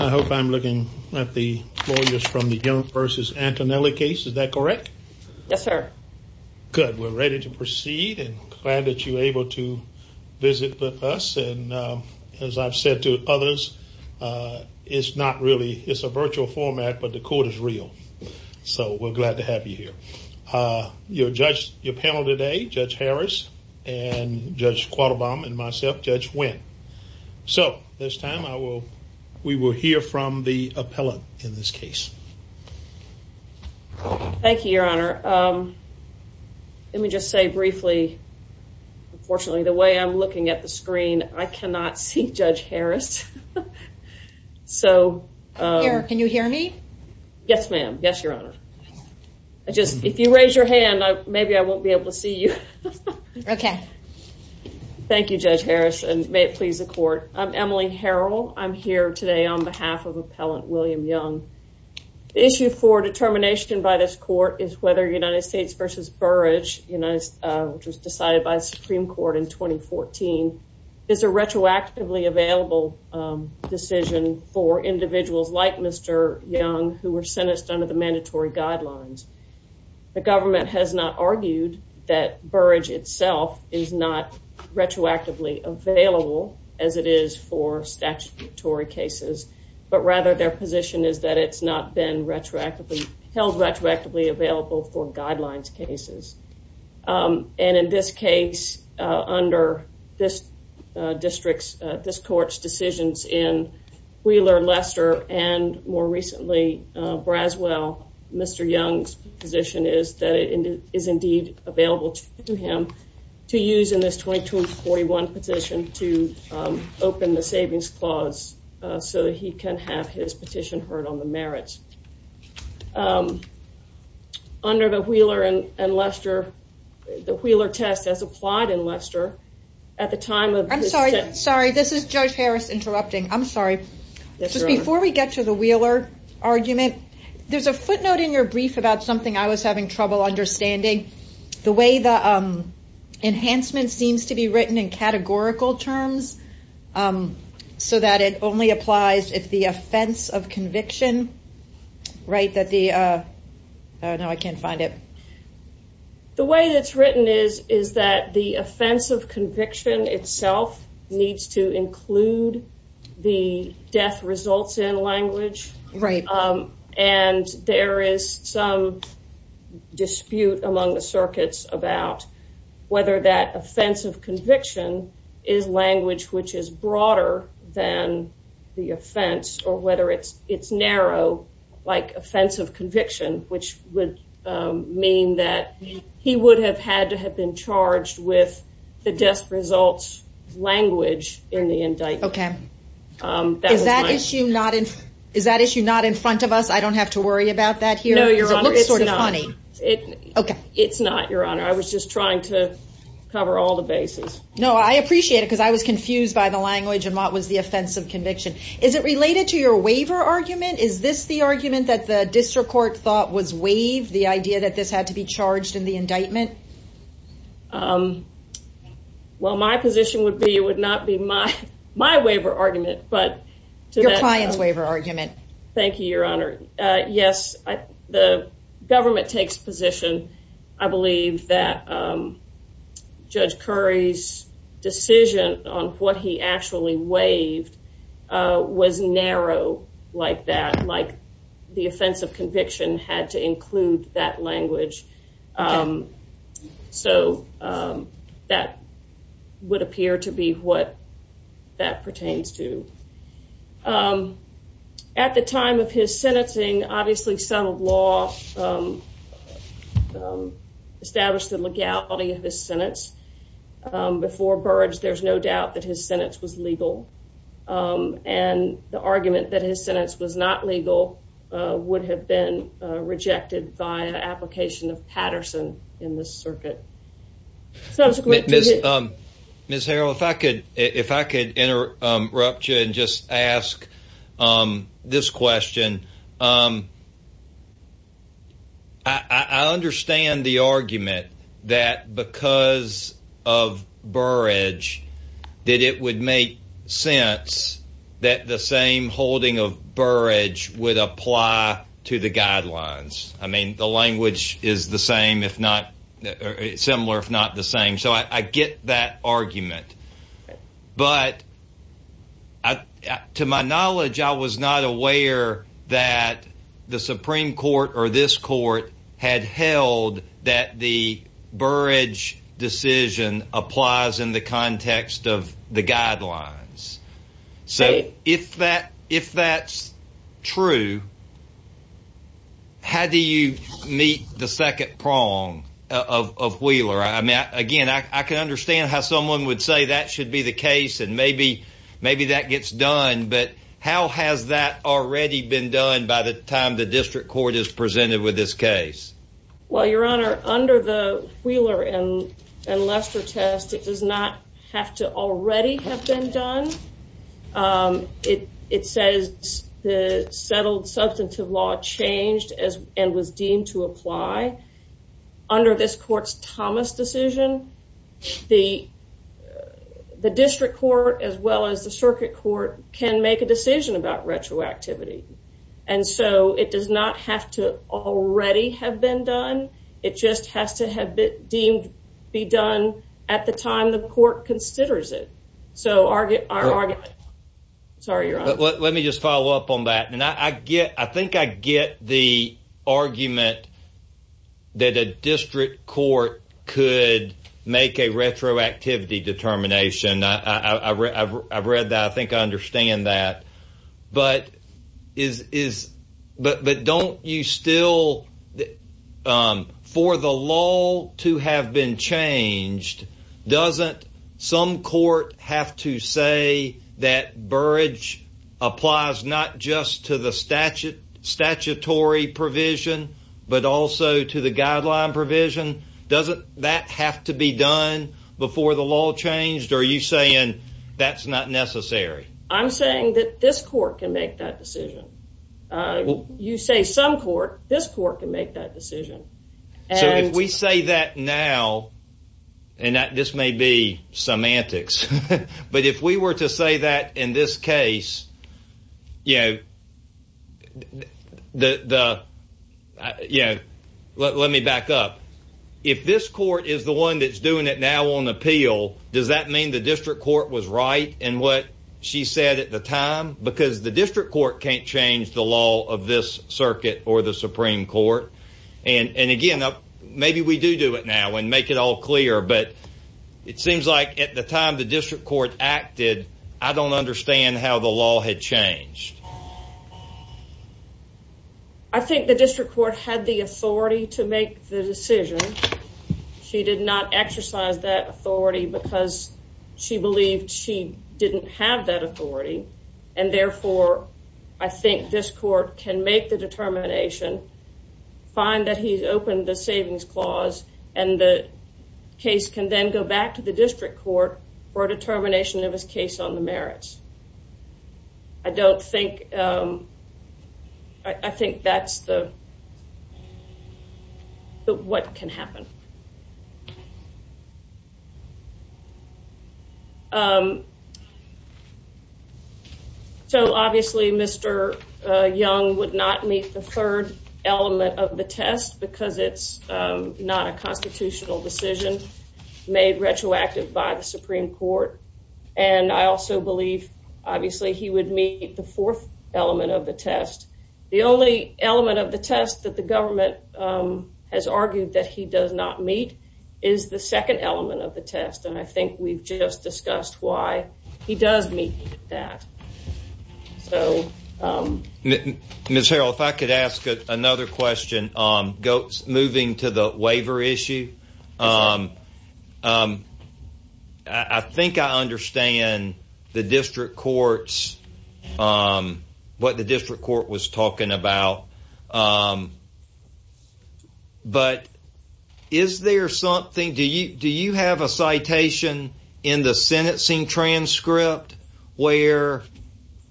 I hope I'm looking at the lawyers from the Young v. Antonelli case. Is that correct? Yes, sir. Good. We're ready to proceed and glad that you're able to visit with us. And as I've said to others, it's not really, it's a virtual format, but the court is real. So we're glad to have you here. Your panel today, Judge Harris and Judge Quattlebaum and myself, Judge Wynn. So this time I will, we will hear from the appellate in this case. Thank you, Your Honor. Let me just say briefly, unfortunately, the way I'm looking at the screen, I cannot see Judge Harris. So... Here, can you hear me? Yes, ma'am. Yes, Your Honor. I just, if you raise your hand, maybe I won't be able to see you. Okay. Thank you, Judge Harris, and may it please the court. I'm Emily Harrell. I'm here today on behalf of Appellant William Young. The issue for determination by this court is whether United States v. Burrage, which was decided by the Supreme Court in 2014, is a retroactively available decision for individuals like Mr. Young who were sentenced under the mandatory guidelines. The government has not argued that Burrage itself is not retroactively available as it is for statutory cases, but rather their position is that it's not been retroactively, held retroactively available for guidelines cases. And in this case, under this district's, this court's decisions in Wheeler, Lester, and more recently, Braswell, Mr. Young's position is that it is indeed available to him to use in this 2241 petition to open the savings clause so that he can have his petition heard on the merits. Under the Wheeler and Lester, the Wheeler test has applied in Lester at the time of... I'm sorry. Sorry. This is Judge Harris interrupting. I'm sorry. Yes, Your Honor. Before we get to the Wheeler argument, there's a footnote in your brief about something I was having trouble understanding. The way the enhancement seems to be written in categorical terms, so that it only applies if the offense of conviction, right, that the... Oh, no. I can't find it. The way that it's written is that the offense of conviction itself needs to include the death results in language. Right. And there is some dispute among the circuits about whether that offense of conviction is language which is broader than the offense or whether it's narrow like offense of conviction, which would mean that he would have had to have been charged with the death results language in the indictment. Okay. Is that issue not in front of us? I don't have to worry about that here? No, Your Honor. It's not. Because it looks sort of funny. It's not, Your Honor. I was just trying to cover all the bases. No, I appreciate it because I was confused by the language and what was the offense of conviction. Is it related to your waiver argument? Is this the argument that the district court thought was waived, the idea that this had to be charged in the indictment? Well, my position would be it would not be my waiver argument, but... Your client's waiver argument. Thank you, Your Honor. Yes, the government takes position. I believe that Judge Curry's decision on what he actually waived was narrow like that, like the offense of conviction had to include that language. So that would appear to be what that pertains to. At the time of his sentencing, obviously some law established the legality of his sentence. Before Burge, there's no doubt that his sentence was legal, and the argument that his sentence was not legal would have been rejected by an application of Patterson in this circuit. Ms. Harrell, if I could interrupt you and just ask this question. I understand the argument that because of Burge, that it would make sense that the same holding of Burge would apply to the guidelines. I mean, the language is similar, if not the same. So I get that argument. But to my knowledge, I was not aware that the Supreme Court or this court had held that the Burge decision applies in the context of the guidelines. So if that's true, how do you meet the second prong of Wheeler? I mean, again, I can understand how someone would say that should be the case and maybe that gets done. But how has that already been done by the time the district court is presented with this case? Well, Your Honor, under the Wheeler and Lester test, it does not have to already have been done. It says the settled substantive law changed and was deemed to apply. Under this court's Thomas decision, the district court as well as the circuit court can make a decision about retroactivity. And so it does not have to already have been done. It just has to have been deemed to be done at the time the court considers it. So our argument. Sorry, Your Honor. Let me just follow up on that. And I think I get the argument that a district court could make a retroactivity determination. I've read that. I think I understand that. But is is but don't you still for the law to have been changed? Doesn't some court have to say that Burrage applies not just to the statute statutory provision, but also to the guideline provision? Doesn't that have to be done before the law changed? Are you saying that's not necessary? I'm saying that this court can make that decision. You say some court, this court can make that decision. And we say that now and that this may be semantics. But if we were to say that in this case, you know, the you know, let me back up. If this court is the one that's doing it now on appeal. Does that mean the district court was right in what she said at the time? Because the district court can't change the law of this circuit or the Supreme Court. And again, maybe we do do it now and make it all clear. But it seems like at the time the district court acted, I don't understand how the law had changed. I think the district court had the authority to make the decision. She did not exercise that authority because she believed she didn't have that authority. And therefore, I think this court can make the determination, find that he's opened the savings clause, and the case can then go back to the district court for a determination of his case on the merits. I don't think I think that's the what can happen. So obviously, Mr. Young would not meet the third element of the test because it's not a constitutional decision made retroactive by the Supreme Court. And I also believe, obviously, he would meet the fourth element of the test. The only element of the test that the government has argued that he does not meet is the second element of the test. And I think we've just discussed why he does meet that. Ms. Harrell, if I could ask another question, moving to the waiver issue. I think I understand the district court's what the district court was talking about. But is there something do you do you have a citation in the sentencing transcript where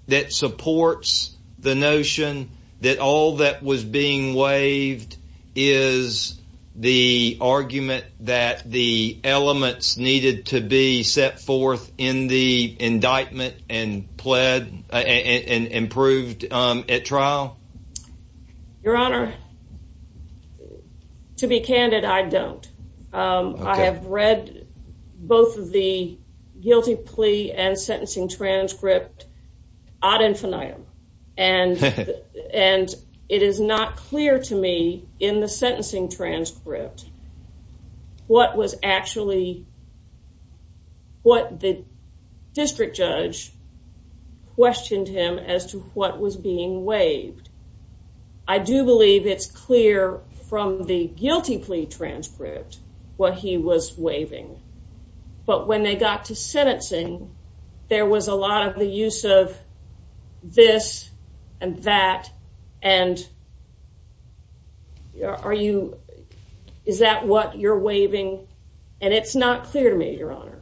that supports the notion that all that was being waived? Is the argument that the elements needed to be set forth in the indictment and pled and improved at trial? Your Honor, to be candid, I don't. I have read both of the guilty plea and sentencing transcript ad infinitum. And it is not clear to me in the sentencing transcript what was actually what the district judge questioned him as to what was being waived. I do believe it's clear from the guilty plea transcript what he was waiving. But when they got to sentencing, there was a lot of the use of this and that. And are you is that what you're waiving? And it's not clear to me, Your Honor.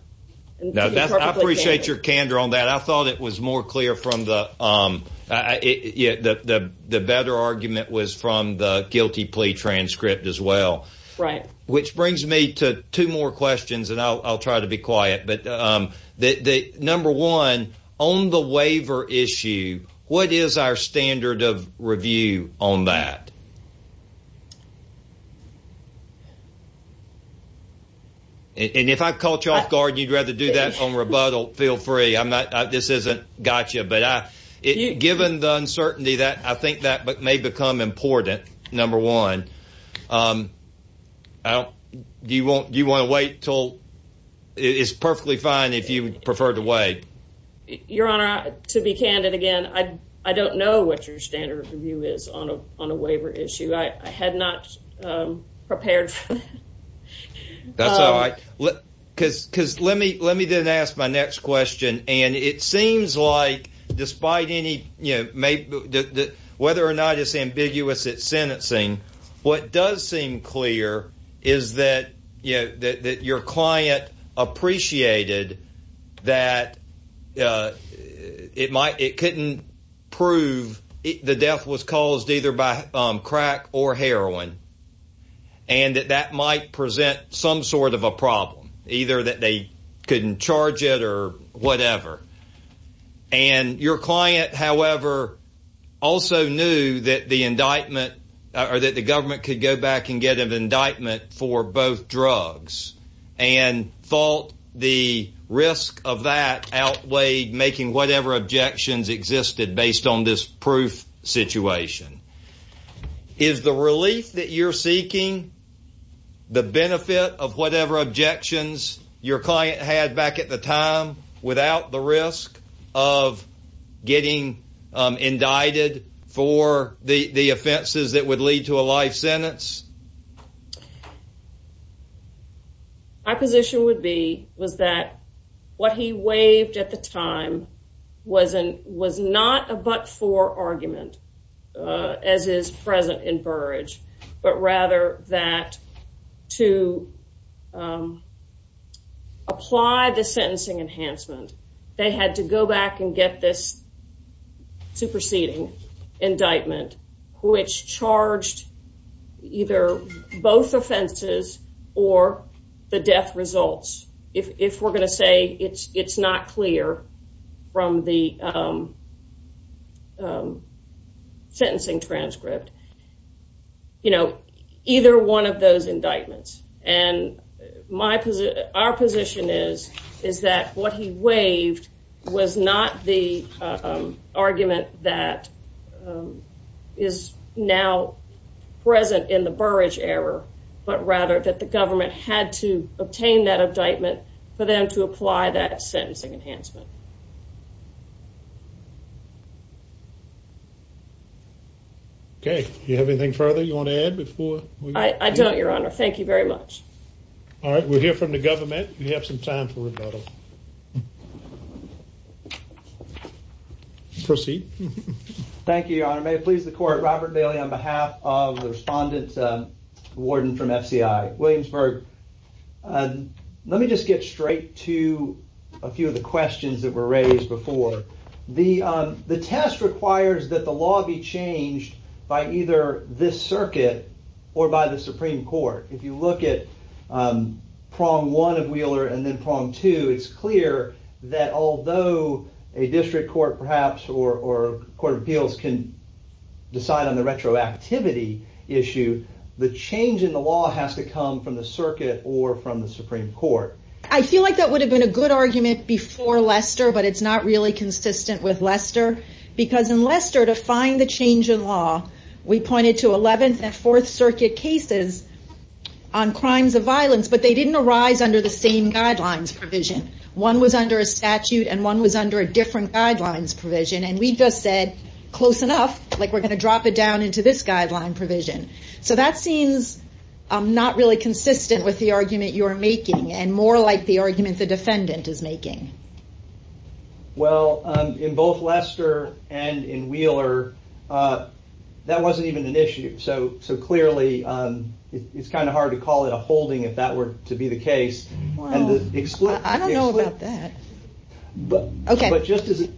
I appreciate your candor on that. I thought it was more clear from the the better argument was from the guilty plea transcript as well. Right. Which brings me to two more questions and I'll try to be quiet. But the number one on the waiver issue, what is our standard of review on that? And if I caught you off guard, you'd rather do that on rebuttal. Feel free. I'm not. This isn't gotcha. But given the uncertainty that I think that may become important. Number one, do you want you want to wait till it's perfectly fine if you prefer to wait? Your Honor, to be candid again, I don't know what your standard of review is on a waiver issue. I had not prepared. That's all right. Because because let me let me then ask my next question. And it seems like despite any, you know, whether or not it's ambiguous, it's sentencing. What does seem clear is that, you know, that your client appreciated that it might it couldn't prove the death was caused either by crack or heroin. And that that might present some sort of a problem, either that they couldn't charge it or whatever. And your client, however, also knew that the indictment or that the government could go back and get an indictment for both drugs. And thought the risk of that outweighed making whatever objections existed based on this proof situation. Is the relief that you're seeking the benefit of whatever objections your client had back at the time without the risk of getting indicted for the offenses that would lead to a life sentence? My position would be was that what he waived at the time wasn't was not a but for argument as is present in Burrage, but rather that to apply the sentencing enhancement. They had to go back and get this superseding indictment, which charged either both offenses or the death results. If we're going to say it's it's not clear from the. Sentencing transcript. You know, either one of those indictments and my our position is, is that what he waived was not the argument that. Is now present in the Burrage error, but rather that the government had to obtain that indictment for them to apply that sentencing enhancement. OK, you have anything further you want to add before I don't your honor. Thank you very much. All right. We're here from the government. We have some time for rebuttal. Proceed. Thank you, Your Honor. May it please the court. Robert Bailey, on behalf of the respondent warden from FCI Williamsburg. Let me just get straight to a few of the questions that were raised before the the test requires that the law be changed by either this circuit or by the Supreme Court. If you look at prong one of Wheeler and then prong two, it's clear that although a district court perhaps or court of appeals can decide on the retroactivity issue. The change in the law has to come from the circuit or from the Supreme Court. I feel like that would have been a good argument before Lester, but it's not really consistent with Lester. Because in Lester, to find the change in law, we pointed to 11th and Fourth Circuit cases on crimes of violence, but they didn't arise under the same guidelines provision. One was under a statute and one was under a different guidelines provision. And we just said close enough, like we're going to drop it down into this guideline provision. So that seems not really consistent with the argument you are making and more like the argument the defendant is making. Well, in both Lester and in Wheeler, that wasn't even an issue. So so clearly it's kind of hard to call it a holding if that were to be the case. And I don't know about that. But just as.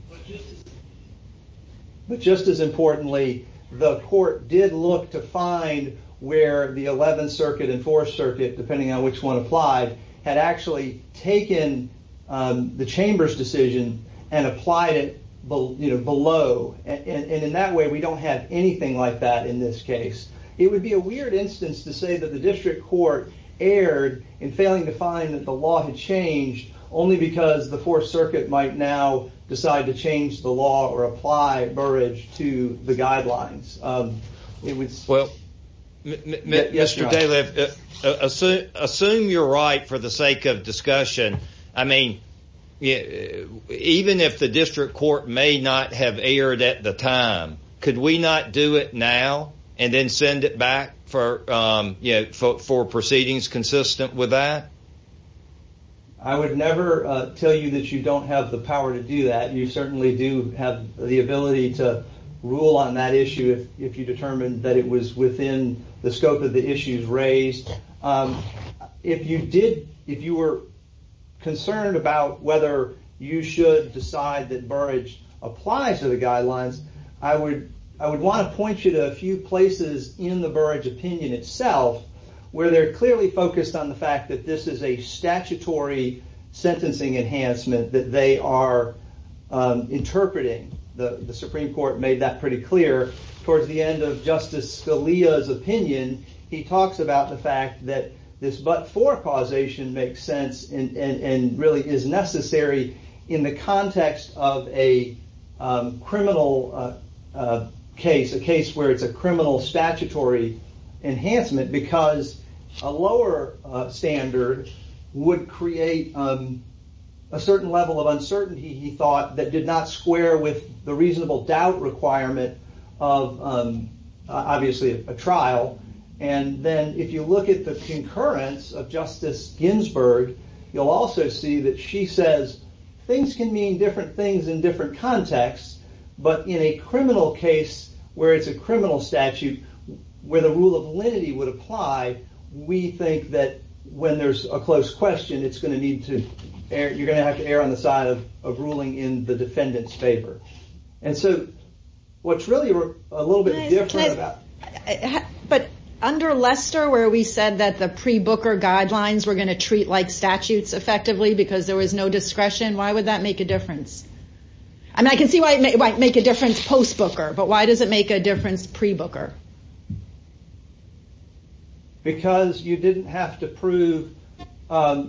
But just as importantly, the court did look to find where the 11th Circuit and Fourth Circuit, depending on which one applied, had actually taken the chamber's decision and applied it below. And in that way, we don't have anything like that in this case. It would be a weird instance to say that the district court erred in failing to find that the law had changed only because the Fourth Circuit might now decide to change the law or apply Burrage to the guidelines. Well, Mr. Daly, assume you're right for the sake of discussion. I mean, even if the district court may not have erred at the time, could we not do it now and then send it back for four proceedings consistent with that? I would never tell you that you don't have the power to do that. You certainly do have the ability to rule on that issue if you determine that it was within the scope of the issues raised. If you did if you were concerned about whether you should decide that Burrage applies to the guidelines, I would I would want to point you to a few places in the Burrage opinion itself where they're clearly focused on the fact that this is a statutory sentencing enhancement, that they are interpreting. The Supreme Court made that pretty clear. Towards the end of Justice Scalia's opinion, he talks about the fact that this but for causation makes sense and really is necessary in the context of a criminal case, a case where it's a criminal statutory enhancement because a lower standard would create a certain level of uncertainty, he thought, that did not square with the reasonable doubt requirement of obviously a trial. And then if you look at the concurrence of Justice Ginsburg, you'll also see that she says things can mean different things in different contexts. But in a criminal case where it's a criminal statute, where the rule of lenity would apply, we think that when there's a close question, it's going to need to err. You're going to have to err on the side of ruling in the defendant's favor. And so what's really a little bit different about... But under Lester, where we said that the pre-Booker guidelines were going to treat like statutes effectively because there was no discretion, why would that make a difference? And I can see why it might make a difference post-Booker, but why does it make a difference pre-Booker? Because you didn't have to prove the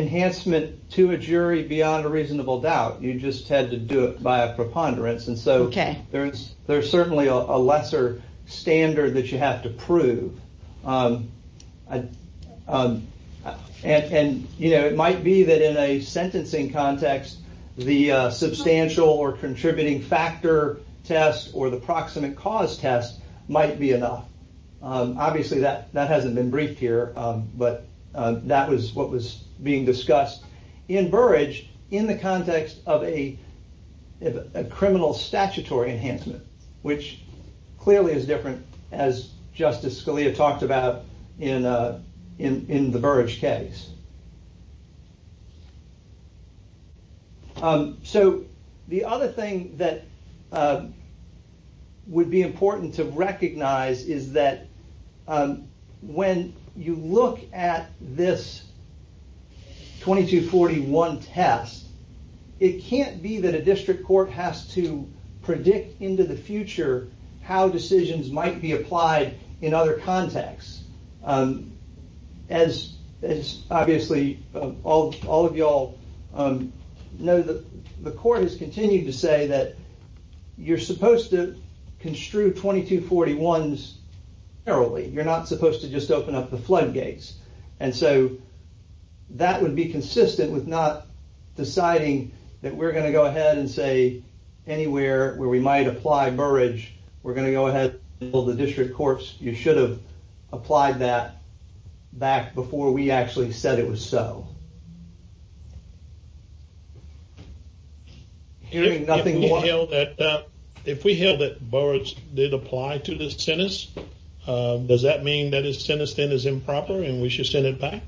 enhancement to a jury beyond a reasonable doubt. You just had to do it by a preponderance. And so there's certainly a lesser standard that you have to prove. And, you know, it might be that in a sentencing context, the substantial or contributing factor test or the proximate cause test might be enough. Obviously, that hasn't been briefed here, but that was what was being discussed. In Burrage, in the context of a criminal statutory enhancement, which clearly is different as Justice Scalia talked about in the Burrage case. So the other thing that would be important to recognize is that when you look at this 2241 test, it can't be that a district court has to predict into the future how decisions might be applied in other contexts. As obviously all of y'all know, the court has continued to say that you're supposed to construe 2241s narrowly. You're not supposed to just open up the floodgates. And so that would be consistent with not deciding that we're going to go ahead and say anywhere where we might apply Burrage, we're going to go ahead and build the district courts. You should have applied that back before we actually said it was so. If we held that Burrage did apply to this sentence, does that mean that his sentence then is improper and we should send it back?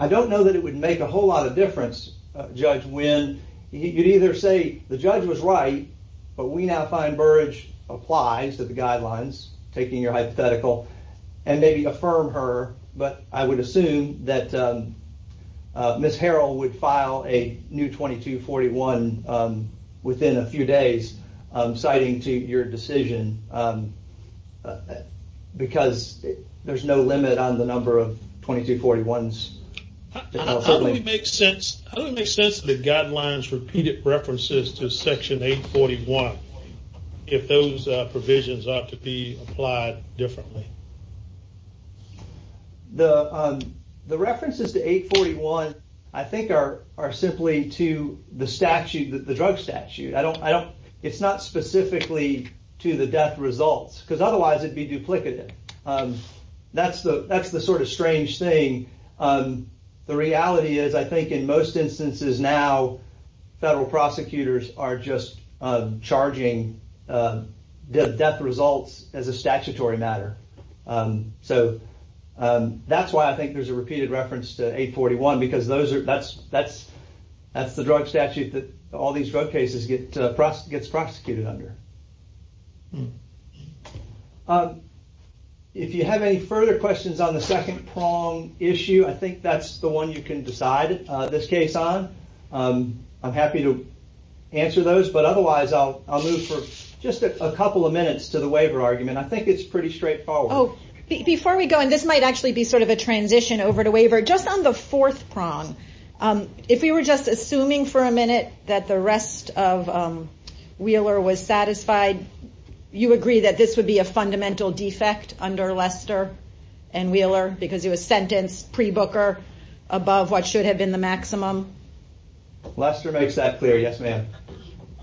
I don't know that it would make a whole lot of difference, Judge Wynn. You'd either say the judge was right, but we now find Burrage applies to the guidelines, taking your hypothetical, and maybe affirming it. I would affirm her, but I would assume that Ms. Harrell would file a new 2241 within a few days citing to your decision because there's no limit on the number of 2241s. How do we make sense of the guidelines repeated references to Section 841 if those provisions are to be applied differently? The references to 841 I think are simply to the drug statute. It's not specifically to the death results because otherwise it'd be duplicative. That's the sort of strange thing. The reality is I think in most instances now federal prosecutors are just charging death results as a statutory matter. That's why I think there's a repeated reference to 841 because that's the drug statute that all these drug cases get prosecuted under. If you have any further questions on the second prong issue, I think that's the one you can decide this case on. I'm happy to answer those, but otherwise I'll move for just a couple of minutes to the waiver argument. I think it's pretty straightforward. Before we go, and this might actually be sort of a transition over to waiver, just on the fourth prong, if we were just assuming for a minute that the rest of Wheeler was satisfied, you agree that this would be a fundamental defect under Lester and Wheeler because it was sentenced pre-Booker above what should have been the maximum? Lester makes that clear, yes ma'am.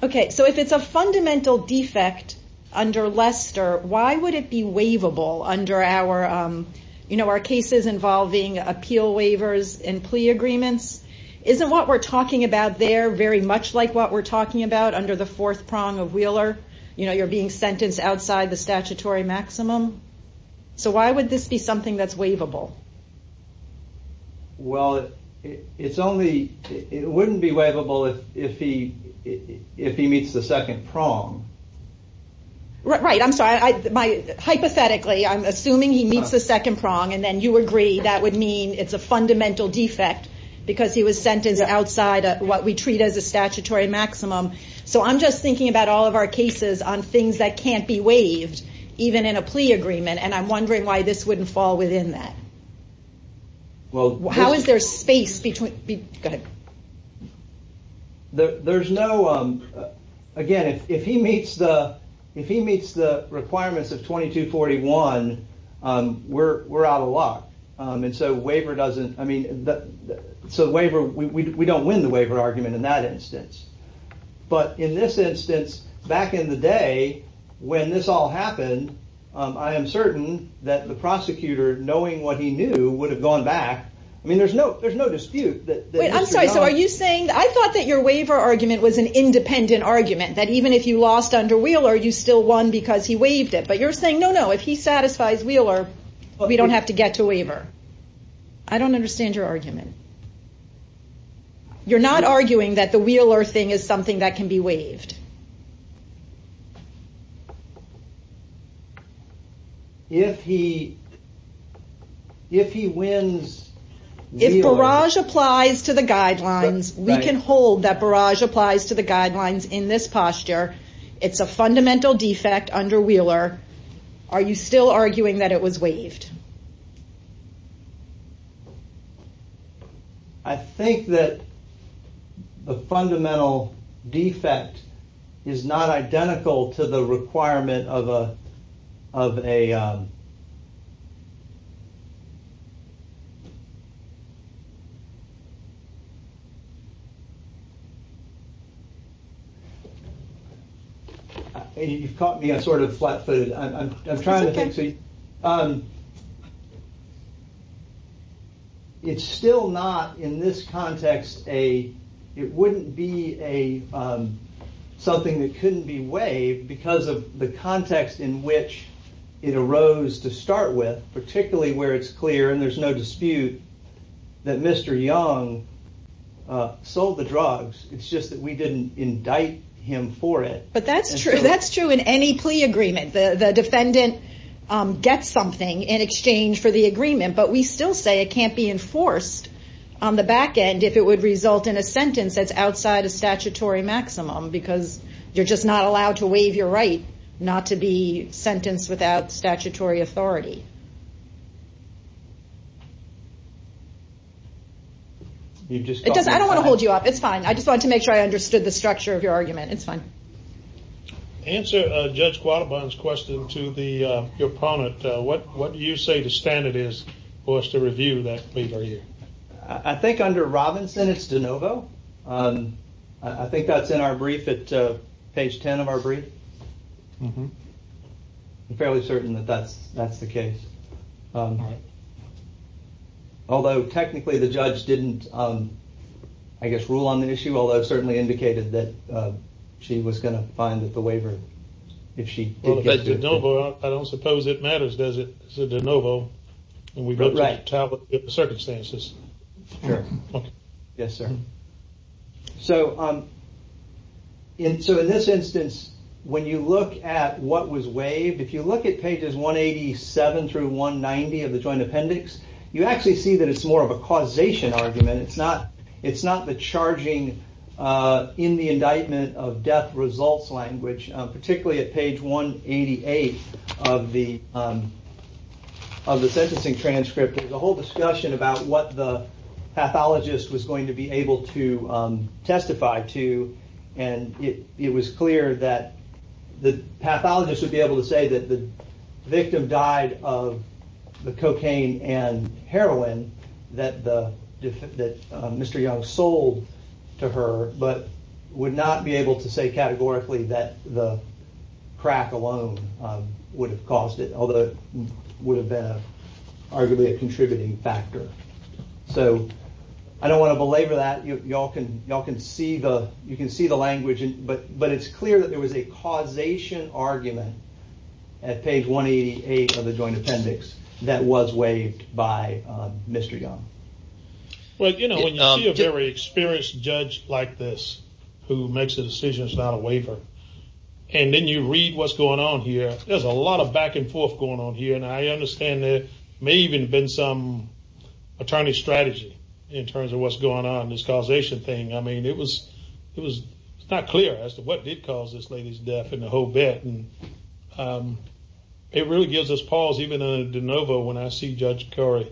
Okay, so if it's a fundamental defect under Lester, why would it be waivable under our cases involving appeal waivers and plea agreements? Isn't what we're talking about there very much like what we're talking about under the fourth prong of Wheeler? You're being sentenced outside the statutory maximum. So why would this be something that's waivable? Well, it wouldn't be waivable if he meets the second prong. Right, I'm sorry. Hypothetically, I'm assuming he meets the second prong, and then you agree that would mean it's a fundamental defect because he was sentenced outside of what we treat as a statutory maximum. So I'm just thinking about all of our cases on things that can't be waived, even in a plea agreement, and I'm wondering why this wouldn't fall within that. Well, how is there space between, go ahead. There's no, again, if he meets the requirements of 2241, we're out of luck. And so waiver doesn't, I mean, so we don't win the waiver argument in that instance. But in this instance, back in the day when this all happened, I am certain that the prosecutor, knowing what he knew, would have gone back. I mean, there's no dispute. I'm sorry, so are you saying, I thought that your waiver argument was an independent argument, that even if you lost under Wheeler, you still won because he waived it. But you're saying, no, no, if he satisfies Wheeler, we don't have to get to waiver. I don't understand your argument. You're not arguing that the Wheeler thing is something that can be waived. If he wins Wheeler. If barrage applies to the guidelines, we can hold that barrage applies to the guidelines in this posture. It's a fundamental defect under Wheeler. Are you still arguing that it was waived? I think that the fundamental defect is not identical to the requirement of a, of a. You've caught me sort of flat footed. I'm trying to think. It's still not in this context a, it wouldn't be a something that couldn't be waived because of the context in which it arose to start with, particularly where it's clear and there's no dispute that Mr. Young sold the drugs. It's just that we didn't indict him for it. But that's true. That's true in any plea agreement. The defendant gets something in exchange for the agreement. But we still say it can't be enforced on the back end if it would result in a sentence that's outside a statutory maximum. Because you're just not allowed to waive your right not to be sentenced without statutory authority. I don't want to hold you up. It's fine. I just want to make sure I understood the structure of your argument. It's fine. Answer Judge Guadalban's question to the opponent. What do you say the standard is for us to review that plea barrier? I think under Robinson it's de novo. I think that's in our brief at page 10 of our brief. Mm hmm. I'm fairly certain that that's that's the case. Although technically the judge didn't, I guess, rule on the issue. Although it certainly indicated that she was going to find that the waiver, if she didn't get to it. I don't suppose it matters, does it? De novo. Right. And we've looked at the circumstances. Sure. Yes, sir. So in this instance, when you look at what was waived, if you look at pages 187 through 190 of the joint appendix, you actually see that it's more of a causation argument. It's not it's not the charging in the indictment of death results language, particularly at page 188 of the of the sentencing transcript. There's a whole discussion about what the pathologist was going to be able to testify to. And it was clear that the pathologist would be able to say that the victim died of the cocaine and heroin that the that Mr. Young sold to her, but would not be able to say categorically that the crack alone would have caused it. Although it would have been arguably a contributing factor. So I don't want to belabor that. Y'all can y'all can see the you can see the language. But but it's clear that there was a causation argument at page 188 of the joint appendix that was waived by Mr. Young. Well, you know, when you're a very experienced judge like this who makes a decision, it's not a waiver. And then you read what's going on here. There's a lot of back and forth going on here. And I understand there may even have been some attorney strategy in terms of what's going on in this causation thing. I mean, it was it was not clear as to what did cause this lady's death and the whole bit. And it really gives us pause, even a de novo when I see Judge Curry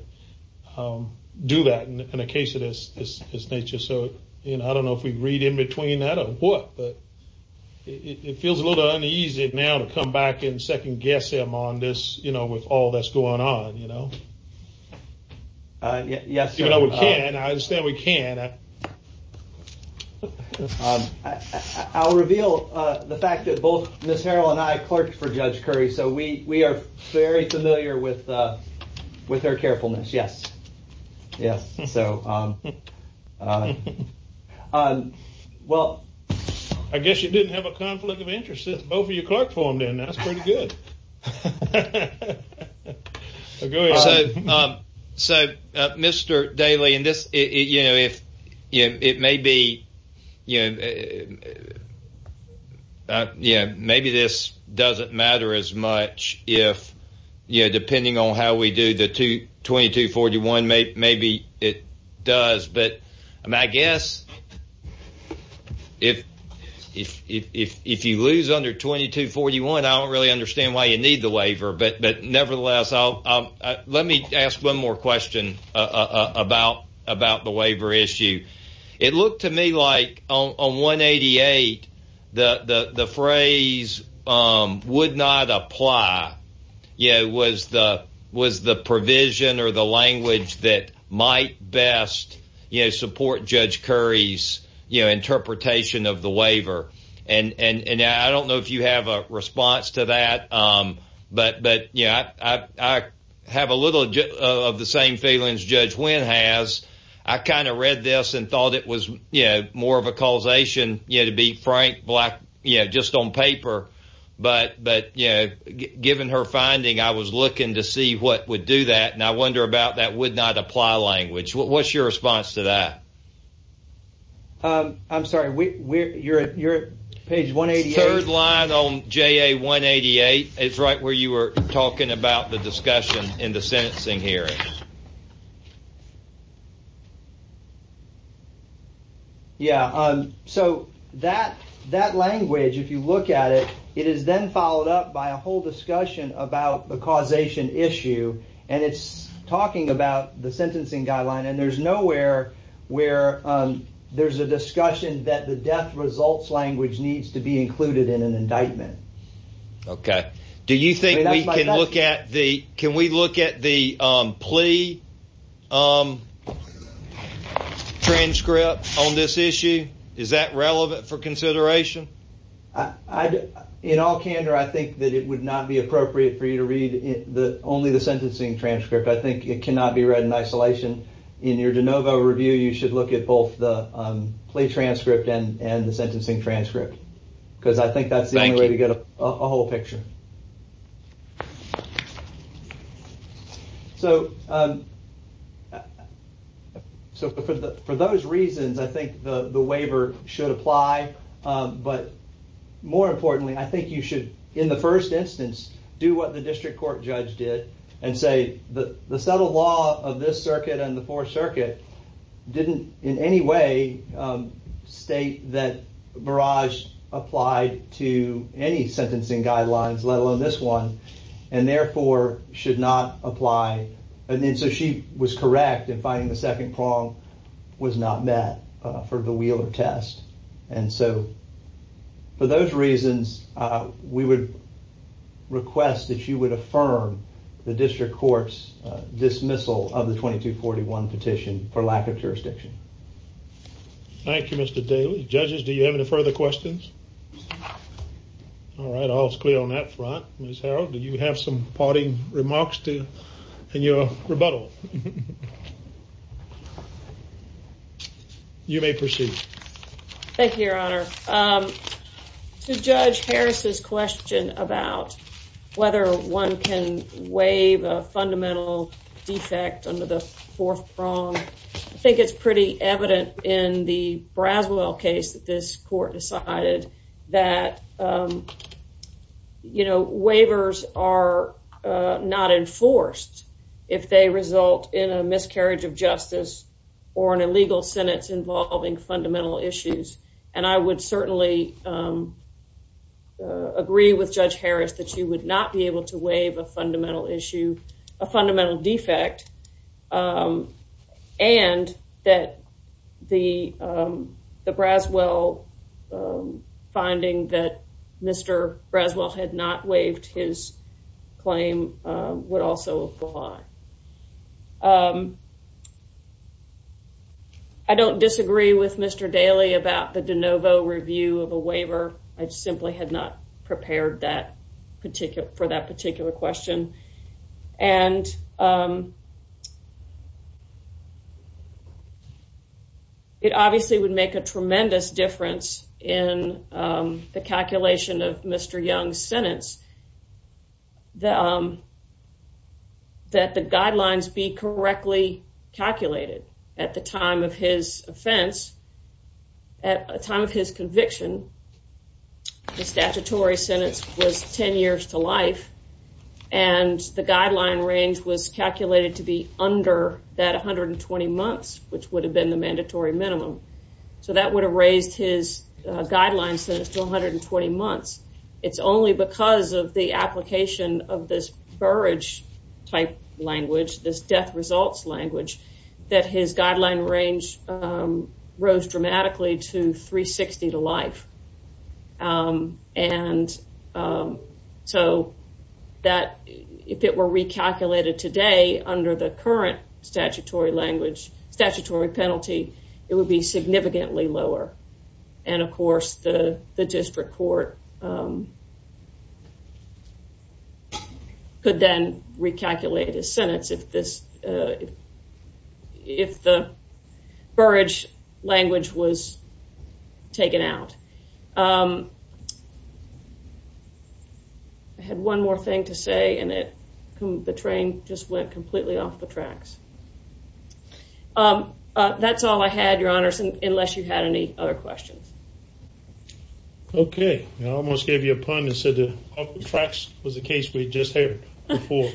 do that in a case of this nature. So, you know, I don't know if we read in between that or what. But it feels a little uneasy now to come back and second guess him on this. You know, with all that's going on, you know. Yes. And I understand we can. I'll reveal the fact that both Miss Harrell and I clerked for Judge Curry. So we we are very familiar with with her carefulness. Yes. Yes. So, well, I guess you didn't have a conflict of interest. If both of you clerked for him, then that's pretty good. So, Mr. Daly, and this is, you know, if it may be, you know, yeah, maybe this doesn't matter as much. If, you know, depending on how we do the 2241, maybe it does. But I guess if if if if you lose under 2241, I don't really understand why you need the waiver. But but nevertheless, I'll let me ask one more question about about the waiver issue. It looked to me like on 188, the phrase would not apply. Yeah. Was the was the provision or the language that might best support Judge Curry's interpretation of the waiver? And I don't know if you have a response to that. But but, yeah, I have a little of the same feelings. Judge Wynn has. I kind of read this and thought it was, you know, more of a causation, you know, to be frank, black, you know, just on paper. But but, you know, given her finding, I was looking to see what would do that. And I wonder about that would not apply language. What's your response to that? I'm sorry, we you're at your page 188 line on J.A. 188. It's right where you were talking about the discussion in the sentencing hearing. Yeah. So that that language, if you look at it, it is then followed up by a whole discussion about the causation issue. And it's talking about the sentencing guideline. And there's nowhere where there's a discussion that the death results language needs to be included in an indictment. OK. Do you think we can look at the can we look at the plea transcript on this issue? Is that relevant for consideration? In all candor, I think that it would not be appropriate for you to read the only the sentencing transcript. I think it cannot be read in isolation. In your DeNovo review, you should look at both the plea transcript and the sentencing transcript, because I think that's the only way to get a whole picture. So. So for the for those reasons, I think the waiver should apply. But more importantly, I think you should, in the first instance, do what the district court judge did and say that the settled law of this circuit and the Fourth Circuit didn't in any way state that barrage applied to any sentencing guidelines, let alone this one, and therefore should not apply. And so she was correct in finding the second prong was not met for the Wheeler test. And so. For those reasons, we would request that you would affirm the district court's dismissal of the twenty two forty one petition for lack of jurisdiction. Thank you, Mr. Daly. Judges, do you have any further questions? All right. All is clear on that front. Do you have some parting remarks to your rebuttal? You may proceed. Thank you, Your Honor. Judge Harris's question about whether one can waive a fundamental defect under the fourth prong. I think it's pretty evident in the Braswell case that this court decided that, you know, waivers are not enforced if they result in a miscarriage of justice or an illegal sentence involving fundamental issues. And I would certainly agree with Judge Harris that she would not be able to waive a fundamental issue, a fundamental defect. And that the the Braswell finding that Mr. Braswell had not waived his claim would also apply. I don't disagree with Mr. Daly about the de novo review of a waiver. I simply had not prepared that particular for that particular question. And. It obviously would make a tremendous difference in the calculation of Mr. Young's sentence. The. That the guidelines be correctly calculated at the time of his offense. At a time of his conviction, the statutory sentence was 10 years to life, and the guideline range was calculated to be under that 120 months, which would have been the mandatory minimum. So that would have raised his guidelines to 120 months. It's only because of the application of this Burridge type language, this death results language, that his guideline range rose dramatically to 360 to life. And so that if it were recalculated today under the current statutory language, statutory penalty, it would be significantly lower. And of course, the district court. Could then recalculate his sentence if this. If the Burridge language was taken out. I had one more thing to say, and the train just went completely off the tracks. That's all I had, Your Honor, unless you had any other questions. OK, I almost gave you a pun and said the tracks was a case we just had before.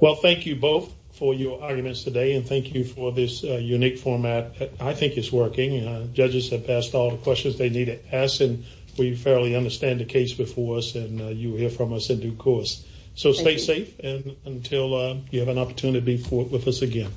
Well, thank you both for your arguments today and thank you for this unique format. I think it's working. Judges have passed all the questions they need to ask. And we fairly understand the case before us and you hear from us in due course. So stay safe and until you have an opportunity to be with us again.